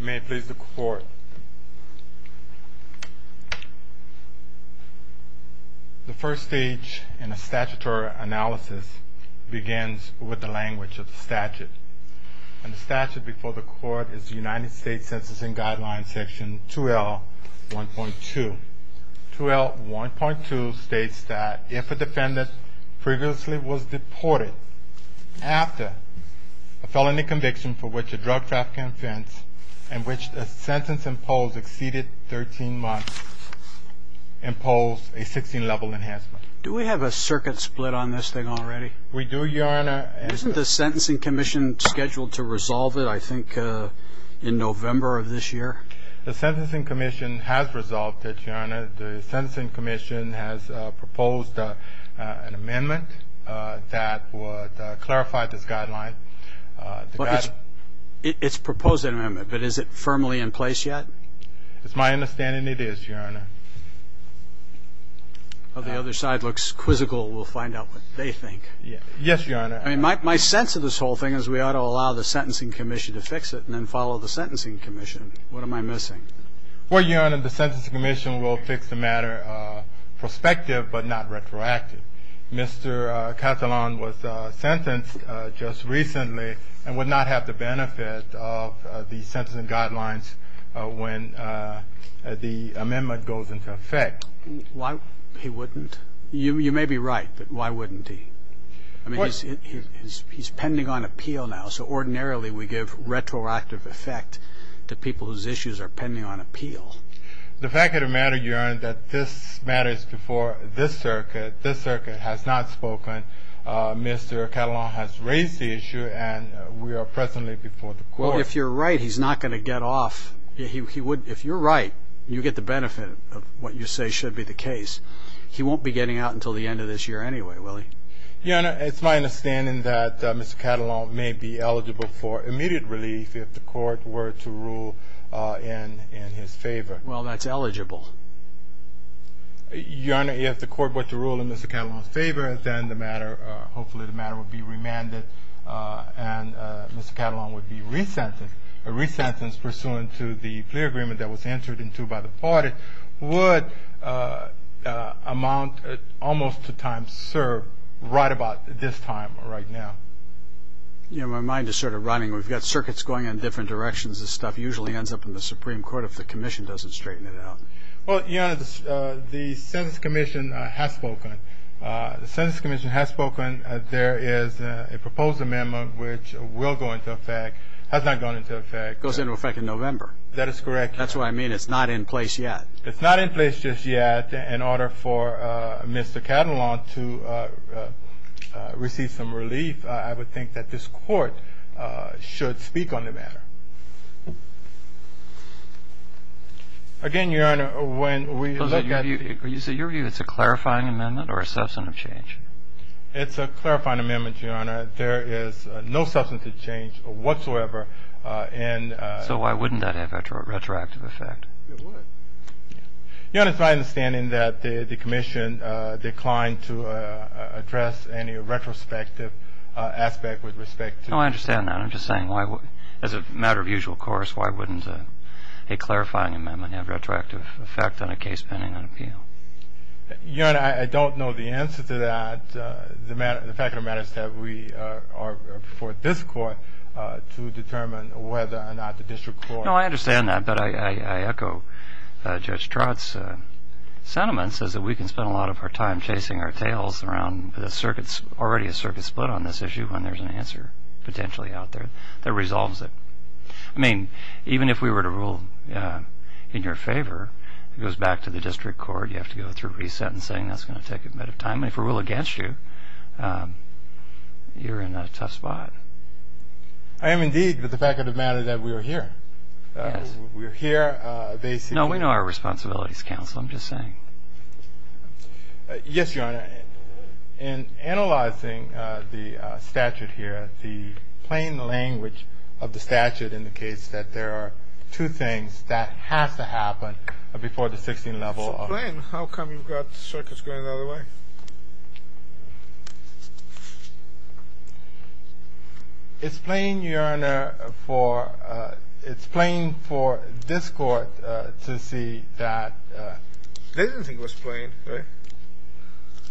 May it please the court. The first stage in a statutory analysis begins with the language of the statute. And the statute before the court is the United States Census and Guidelines section 2L1.2. 2L1.2 states that if a defendant previously was deported after a felony conviction for which a drug trafficking offense in which the sentence imposed exceeded 13 months impose a 16 level enhancement. Do we have a circuit split on this thing already? We do your honor. Isn't the Sentencing Commission scheduled to resolve it I think in November of this year? The Sentencing Commission has resolved it, your honor. The Sentencing Commission has proposed an amendment that would clarify this guideline. It's proposed an amendment, but is it firmly in place yet? It's my understanding it is, your honor. The other side looks quizzical. We'll find out what they think. Yes, your honor. My sense of this whole thing is we ought to allow the Sentencing Commission to fix it and then follow the Sentencing Commission. What am I missing? Well, your honor, the Sentencing Commission will fix the matter prospective but not retroactive. Mr. Catalan was sentenced just recently and would not have the benefit of the Sentencing Guidelines when the amendment goes into effect. Why wouldn't he? You may be right, but why wouldn't he? He's pending on appeal now, so ordinarily we give retroactive effect to people whose issues are pending on appeal. The fact of the matter, your honor, that this matter is before this circuit. This circuit has not spoken. Mr. Catalan has raised the issue and we are presently before the court. Well, if you're right, he's not going to get off. If you're right, you get the benefit of what you say should be the case. He won't be getting out until the end of this year anyway, will he? Your honor, it's my understanding that Mr. Catalan may be eligible for immediate relief if the court were to rule in his favor. Well, that's eligible. Your honor, if the court were to rule in Mr. Catalan's favor, then the matter, hopefully the matter would be remanded and Mr. Catalan would be re-sentenced. A re-sentence pursuant to the clear agreement that was entered into by the party would amount almost to time served right about this time right now. You know, my mind is sort of running. We've got circuits going in different directions. This stuff usually ends up in the Supreme Court if the commission doesn't straighten it out. Well, your honor, the Census Commission has spoken. The Census Commission has spoken. There is a proposed amendment which will go into effect. Has not gone into effect. Goes into effect in November. That is correct. That's what I mean. It's not in place yet. It's not in place just yet in order for Mr. Catalan to receive some relief. I would think that this court should speak on the matter. Again, your honor, when we look at Are you saying it's a clarifying amendment or a substantive change? It's a clarifying amendment, your honor. There is no substantive change whatsoever. So why wouldn't that have a retroactive effect? It would. Your honor, it's my understanding that the commission declined to address any retrospective aspect with respect to No, I understand that. I'm just saying as a matter of usual course, why wouldn't a clarifying amendment have retroactive effect on a case pending an appeal? Your honor, I don't know the answer to that. The fact of the matter is that we are before this court to determine whether or not the district court No, I understand that, but I echo Judge Trott's sentiments as that we can spend a lot of our time chasing our tails around the circuits, already a circuit split on this issue when there's an answer potentially out there that resolves it. I mean, even if we were to rule in your favor, it goes back to the district court. You have to go through resentencing. That's going to take a bit of time. If we rule against you, you're in a tough spot. I am indeed, but the fact of the matter is that we are here. Yes. We are here. No, we know our responsibilities, counsel. I'm just saying. Yes, your honor. In analyzing the statute here, the plain language of the statute indicates that there are two things that have to happen before the 16th level. How come you've got circuits going the other way? It's plain, your honor, for, it's plain for this court to see that. They didn't think it was plain, right?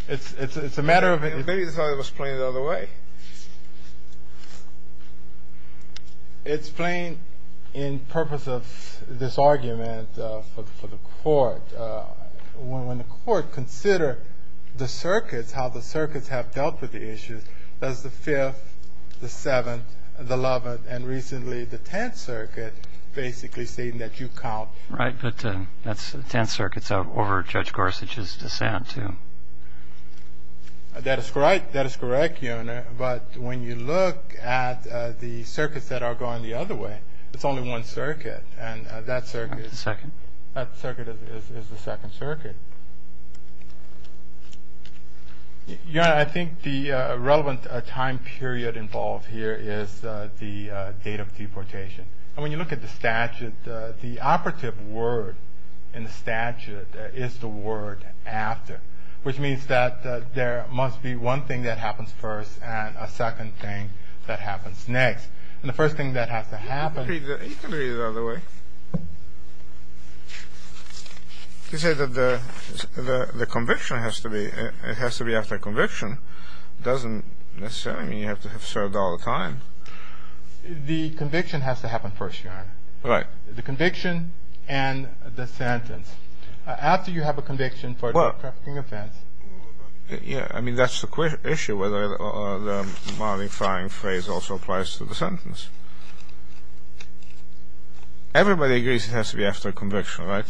It's a matter of. Maybe they thought it was plain the other way. It's plain in purpose of this argument for the court. When the court consider the circuits, how the circuits have dealt with the issues, that's the Fifth, the Seventh, the Eleventh, and recently the Tenth Circuit basically stating that you count. Right. But that's the Tenth Circuit's over Judge Gorsuch's dissent too. That is correct. That is correct, your honor. But when you look at the circuits that are going the other way, it's only one circuit. And that circuit. Second. That circuit is the Second Circuit. Your honor, I think the relevant time period involved here is the date of deportation. And when you look at the statute, the operative word in the statute is the word after, which means that there must be one thing that happens first and a second thing that happens next. And the first thing that has to happen. You can read it the other way. You say that the conviction has to be, it has to be after conviction. It doesn't necessarily mean you have to have served all the time. The conviction has to happen first, your honor. Right. The conviction and the sentence. After you have a conviction for a trafficking offense. Yeah. I mean, that's the issue. The modifying phrase also applies to the sentence. Everybody agrees it has to be after conviction, right?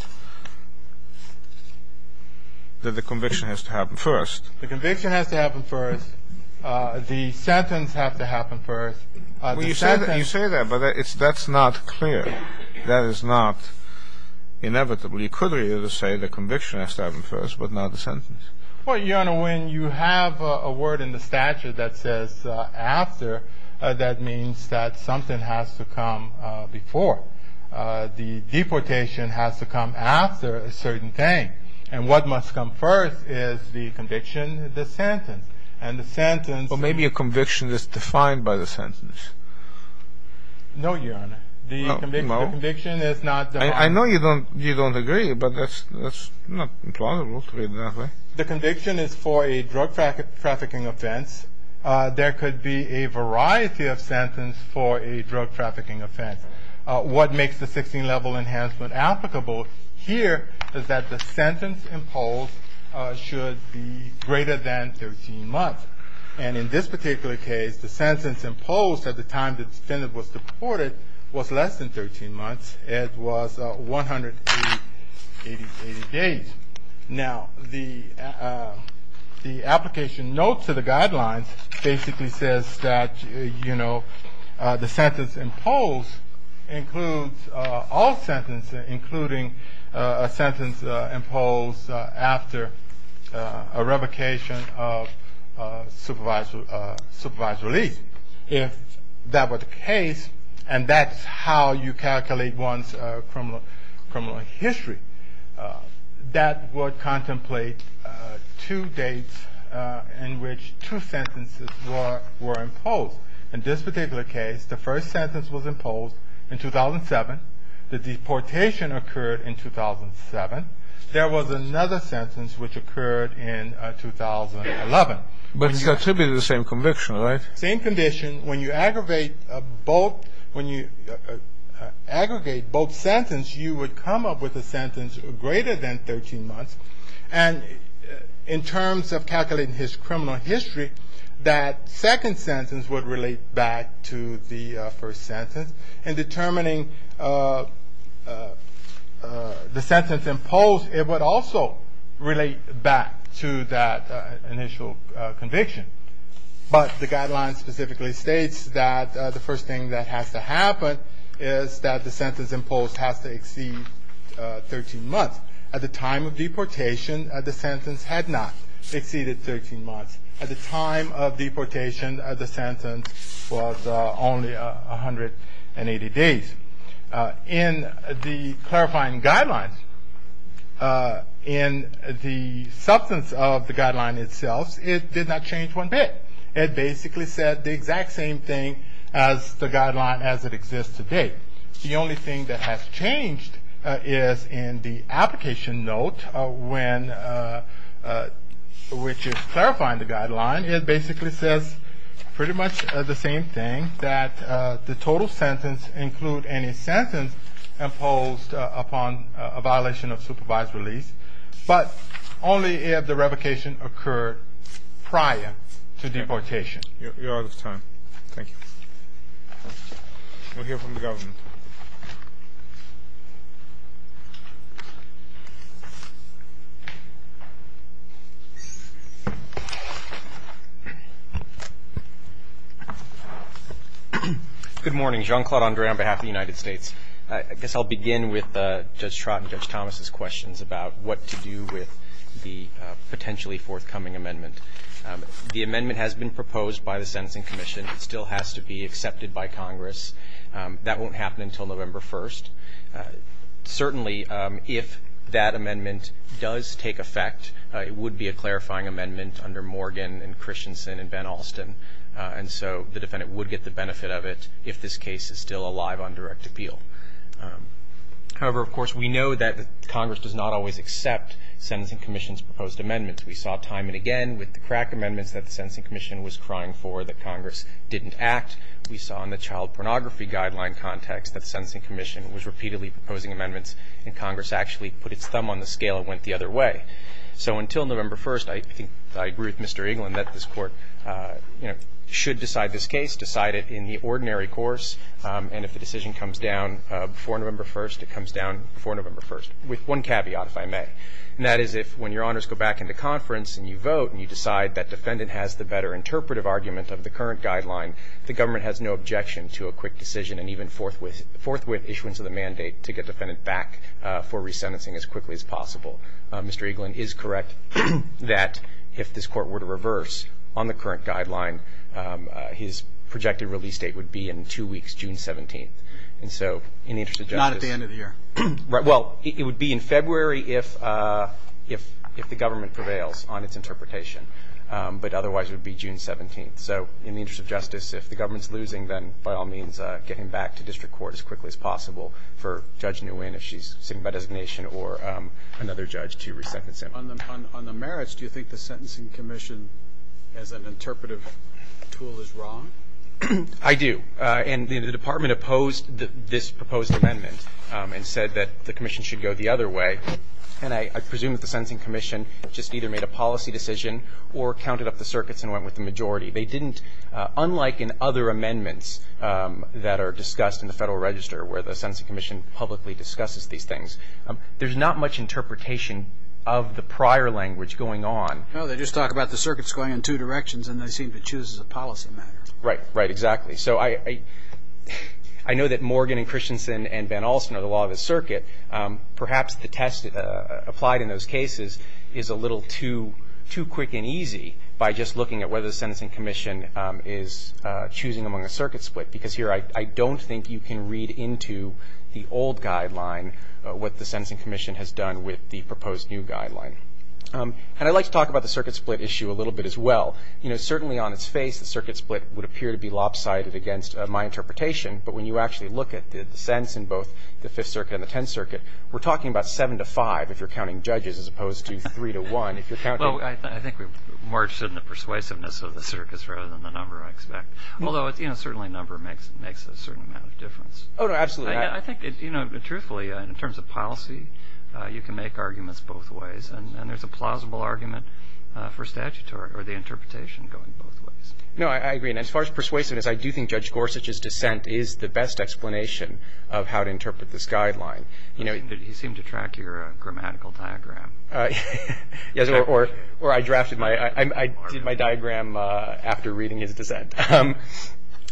That the conviction has to happen first. The conviction has to happen first. The sentence has to happen first. You say that, but that's not clear. That is not inevitable. You could say the conviction has to happen first, but not the sentence. Well, your honor, when you have a word in the statute that says after, that means that something has to come before. The deportation has to come after a certain thing. And what must come first is the conviction, the sentence. And the sentence. Well, maybe a conviction is defined by the sentence. No, your honor. No? The conviction is not defined. I know you don't agree, but that's not implausible to me. The conviction is for a drug trafficking offense. There could be a variety of sentences for a drug trafficking offense. What makes the 16-level enhancement applicable here is that the sentence imposed should be greater than 13 months. And in this particular case, the sentence imposed at the time the defendant was deported was less than 13 months. It was 180 days. Now, the application notes to the guidelines basically says that, you know, the sentence imposed includes all sentences, including a sentence imposed after a revocation of supervised release. If that were the case, and that's how you calculate one's criminal history, that would contemplate two dates in which two sentences were imposed. In this particular case, the first sentence was imposed in 2007. The deportation occurred in 2007. There was another sentence which occurred in 2011. But it's attributed to the same conviction, right? Same condition. When you aggregate both sentences, you would come up with a sentence greater than 13 months. And in terms of calculating his criminal history, that second sentence would relate back to the first sentence. In determining the sentence imposed, it would also relate back to that initial conviction. But the guidelines specifically states that the first thing that has to happen is that the sentence imposed has to exceed 13 months. At the time of deportation, the sentence had not exceeded 13 months. At the time of deportation, the sentence was only 180 days. In the clarifying guidelines, in the substance of the guideline itself, it did not change one bit. It basically said the exact same thing as the guideline as it exists today. The only thing that has changed is in the application note, which is clarifying the guideline, it basically says pretty much the same thing, that the total sentence include any sentence imposed upon a violation of supervised release. But only if the revocation occurred prior to deportation. You're out of time. Thank you. We'll hear from the government. Good morning. Jean-Claude Andre on behalf of the United States. I guess I'll begin with Judge Trott and Judge Thomas' questions about what to do with the potentially forthcoming amendment. The amendment has been proposed by the Sentencing Commission. It still has to be accepted by Congress. That won't happen until November 1st. Certainly, if that amendment does take effect, it would be a clarifying amendment under Morgan and Christensen and Van Alsten. And so the defendant would get the benefit of it if this case is still alive on direct appeal. However, of course, we know that Congress does not always accept Sentencing Commission's proposed amendments. We saw time and again with the crack amendments that the Sentencing Commission was crying for that Congress didn't act. We saw in the child pornography guideline context that the Sentencing Commission was repeatedly proposing amendments, and Congress actually put its thumb on the scale and went the other way. So until November 1st, I think I agree with Mr. Eaglin that this Court should decide this case, decide it in the ordinary course. And if the decision comes down before November 1st, it comes down before November 1st, with one caveat, if I may. And that is if, when your honors go back into conference and you vote, and you decide that defendant has the better interpretive argument of the current guideline, the government has no objection to a quick decision and even forthwith issuance of the mandate to get defendant back for resentencing as quickly as possible. Mr. Eaglin is correct that if this Court were to reverse on the current guideline, his projected release date would be in two weeks, June 17th. And so in the interest of justice… Not at the end of the year. Well, it would be in February if the government prevails on its interpretation. But otherwise, it would be June 17th. So in the interest of justice, if the government's losing, then by all means get him back to district court as quickly as possible for Judge Nguyen, if she's sitting by designation, or another judge to resentence him. On the merits, do you think the Sentencing Commission, as an interpretive tool, is wrong? I do. And the Department opposed this proposed amendment and said that the Commission should go the other way. And I presume that the Sentencing Commission just either made a policy decision or counted up the circuits and went with the majority. They didn't, unlike in other amendments that are discussed in the Federal Register where the Sentencing Commission publicly discusses these things, there's not much interpretation of the prior language going on. No, they just talk about the circuits going in two directions, and they seem to choose as a policy matter. Right, right, exactly. So I know that Morgan and Christensen and Van Olsen are the law of the circuit. Perhaps the test applied in those cases is a little too quick and easy by just looking at whether the Sentencing Commission is choosing among a circuit split. Because here, I don't think you can read into the old guideline what the Sentencing Commission has done with the proposed new guideline. And I'd like to talk about the circuit split issue a little bit as well. You know, certainly on its face, the circuit split would appear to be lopsided against my interpretation. But when you actually look at the sense in both the Fifth Circuit and the Tenth Circuit, we're talking about seven to five if you're counting judges as opposed to three to one if you're counting. Well, I think we're more interested in the persuasiveness of the circuits rather than the number, I expect. Although, you know, certainly number makes a certain amount of difference. Oh, no, absolutely. I think, you know, truthfully, in terms of policy, you can make arguments both ways. And there's a plausible argument for statutory or the interpretation going both ways. No, I agree. And as far as persuasiveness, I do think Judge Gorsuch's dissent is the best explanation of how to interpret this guideline. You know, he seemed to track your grammatical diagram. Yes, or I drafted my diagram after reading his dissent.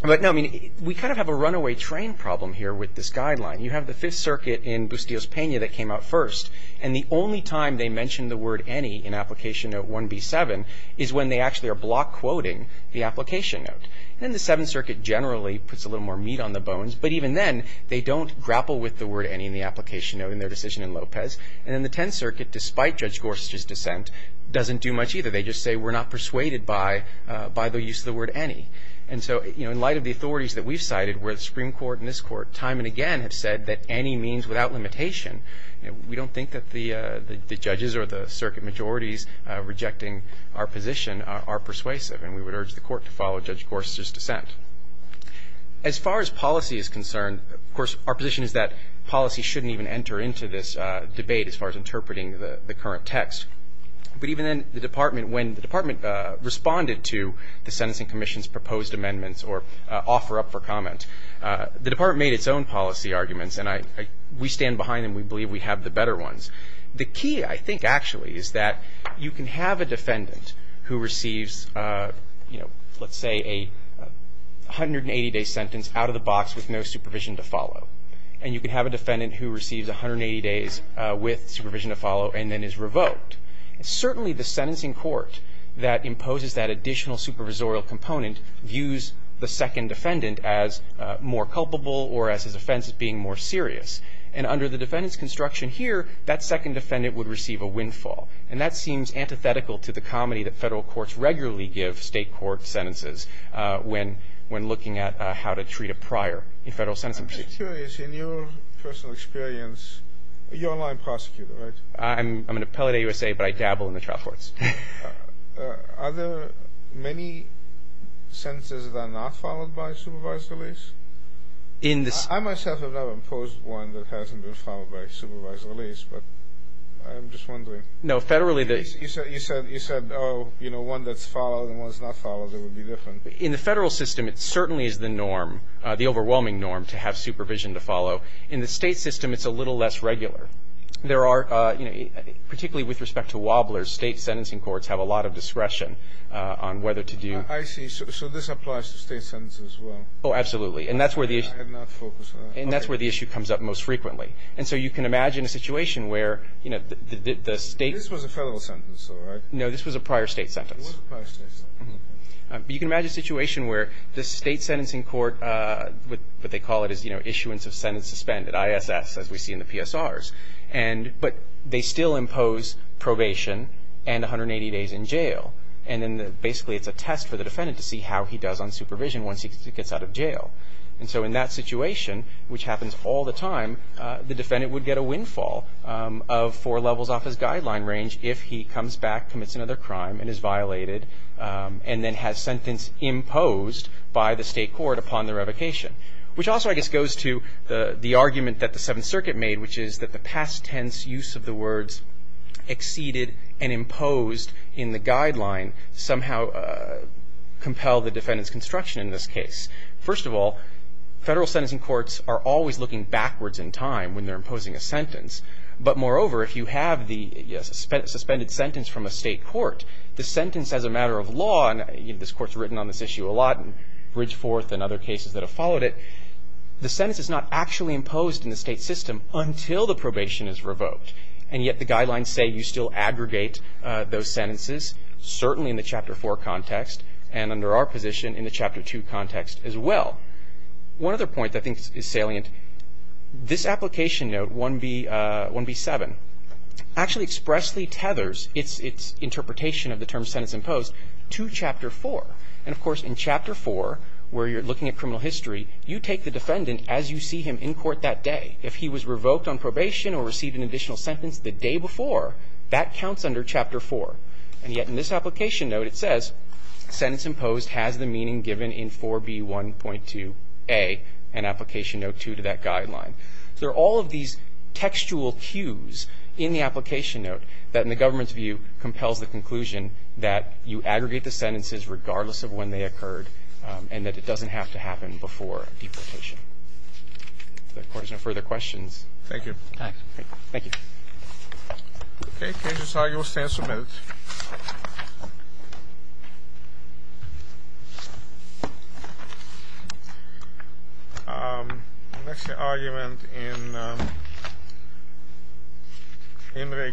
But, no, I mean, we kind of have a runaway train problem here with this guideline. You have the Fifth Circuit in Bustillos-Pena that came out first. And the only time they mention the word any in Application Note 1B7 is when they actually are block quoting the Application Note. And the Seventh Circuit generally puts a little more meat on the bones. But even then, they don't grapple with the word any in the Application Note in their decision in Lopez. And then the Tenth Circuit, despite Judge Gorsuch's dissent, doesn't do much either. They just say we're not persuaded by the use of the word any. And so, you know, in light of the authorities that we've cited where the Supreme Court and this Court time and again have said that any means without limitation, we don't think that the judges or the circuit majorities rejecting our position are persuasive. And we would urge the Court to follow Judge Gorsuch's dissent. As far as policy is concerned, of course, our position is that policy shouldn't even enter into this debate as far as interpreting the current text. But even then, the Department, when the Department responded to the Sentencing Commission's proposed amendments or offer up for comment, the Department made its own policy arguments. And we stand behind them. We believe we have the better ones. The key, I think, actually, is that you can have a defendant who receives, you know, let's say a 180-day sentence out of the box with no supervision to follow. And you can have a defendant who receives 180 days with supervision to follow and then is revoked. And certainly the sentencing court that imposes that additional supervisorial component views the second defendant as more culpable or as his offense as being more serious. And under the defendant's construction here, that second defendant would receive a windfall. And that seems antithetical to the comedy that federal courts regularly give state court sentences when looking at how to treat a prior in federal sentencing proceedings. I'm just curious, in your personal experience, you're a line prosecutor, right? I'm an appellate at USA, but I dabble in the trial courts. Are there many sentences that are not followed by supervised release? I myself have never imposed one that hasn't been followed by supervised release, but I'm just wondering. No, federally the You said, oh, you know, one that's followed and one that's not followed, it would be different. In the federal system, it certainly is the norm, the overwhelming norm to have supervision to follow. In the state system, it's a little less regular. There are, you know, particularly with respect to wobblers, state sentencing courts have a lot of discretion on whether to do I see. So this applies to state sentences as well. Oh, absolutely. And that's where the issue I had not focused on that. And that's where the issue comes up most frequently. And so you can imagine a situation where, you know, the state This was a federal sentence, though, right? No, this was a prior state sentence. It was a prior state sentence. But you can imagine a situation where the state sentencing court, what they call it is, you know, issuance of sentence suspended, ISS, as we see in the PSRs. And but they still impose probation and 180 days in jail. And then basically it's a test for the defendant to see how he does on supervision once he gets out of jail. And so in that situation, which happens all the time, the defendant would get a windfall of four levels off his guideline range if he comes back, commits another crime, and is violated and then has sentence imposed by the state court upon the revocation. Which also, I guess, goes to the argument that the Seventh Circuit made, which is that the past tense use of the words exceeded and imposed in the guideline somehow compelled the defendant's construction in this case. First of all, federal sentencing courts are always looking backwards in time when they're imposing a sentence. But moreover, if you have the suspended sentence from a state court, the sentence as a matter of law, and this court's written on this issue a lot in Bridgeforth and other cases that have followed it, the sentence is not actually imposed in the state system until the probation is revoked. And yet the guidelines say you still aggregate those sentences, certainly in the Chapter 4 context, and under our position in the Chapter 2 context as well. One other point that I think is salient, this application note, 1B7, actually expressly tethers its interpretation of the term sentence imposed to Chapter 4. And, of course, in Chapter 4, where you're looking at criminal history, you take the defendant as you see him in court that day. If he was revoked on probation or received an additional sentence the day before, that counts under Chapter 4. And yet in this application note, it says sentence imposed has the meaning given in 4B1.2a and application note 2 to that guideline. So there are all of these textual cues in the application note that, in the government's view, compels the conclusion that you aggregate the sentences regardless of when they occurred and that it doesn't have to happen before deportation. If the Court has no further questions. Thank you. Thanks. Thank you. Okay, cases are yours to answer in a minute. Next, the argument in In re Quis.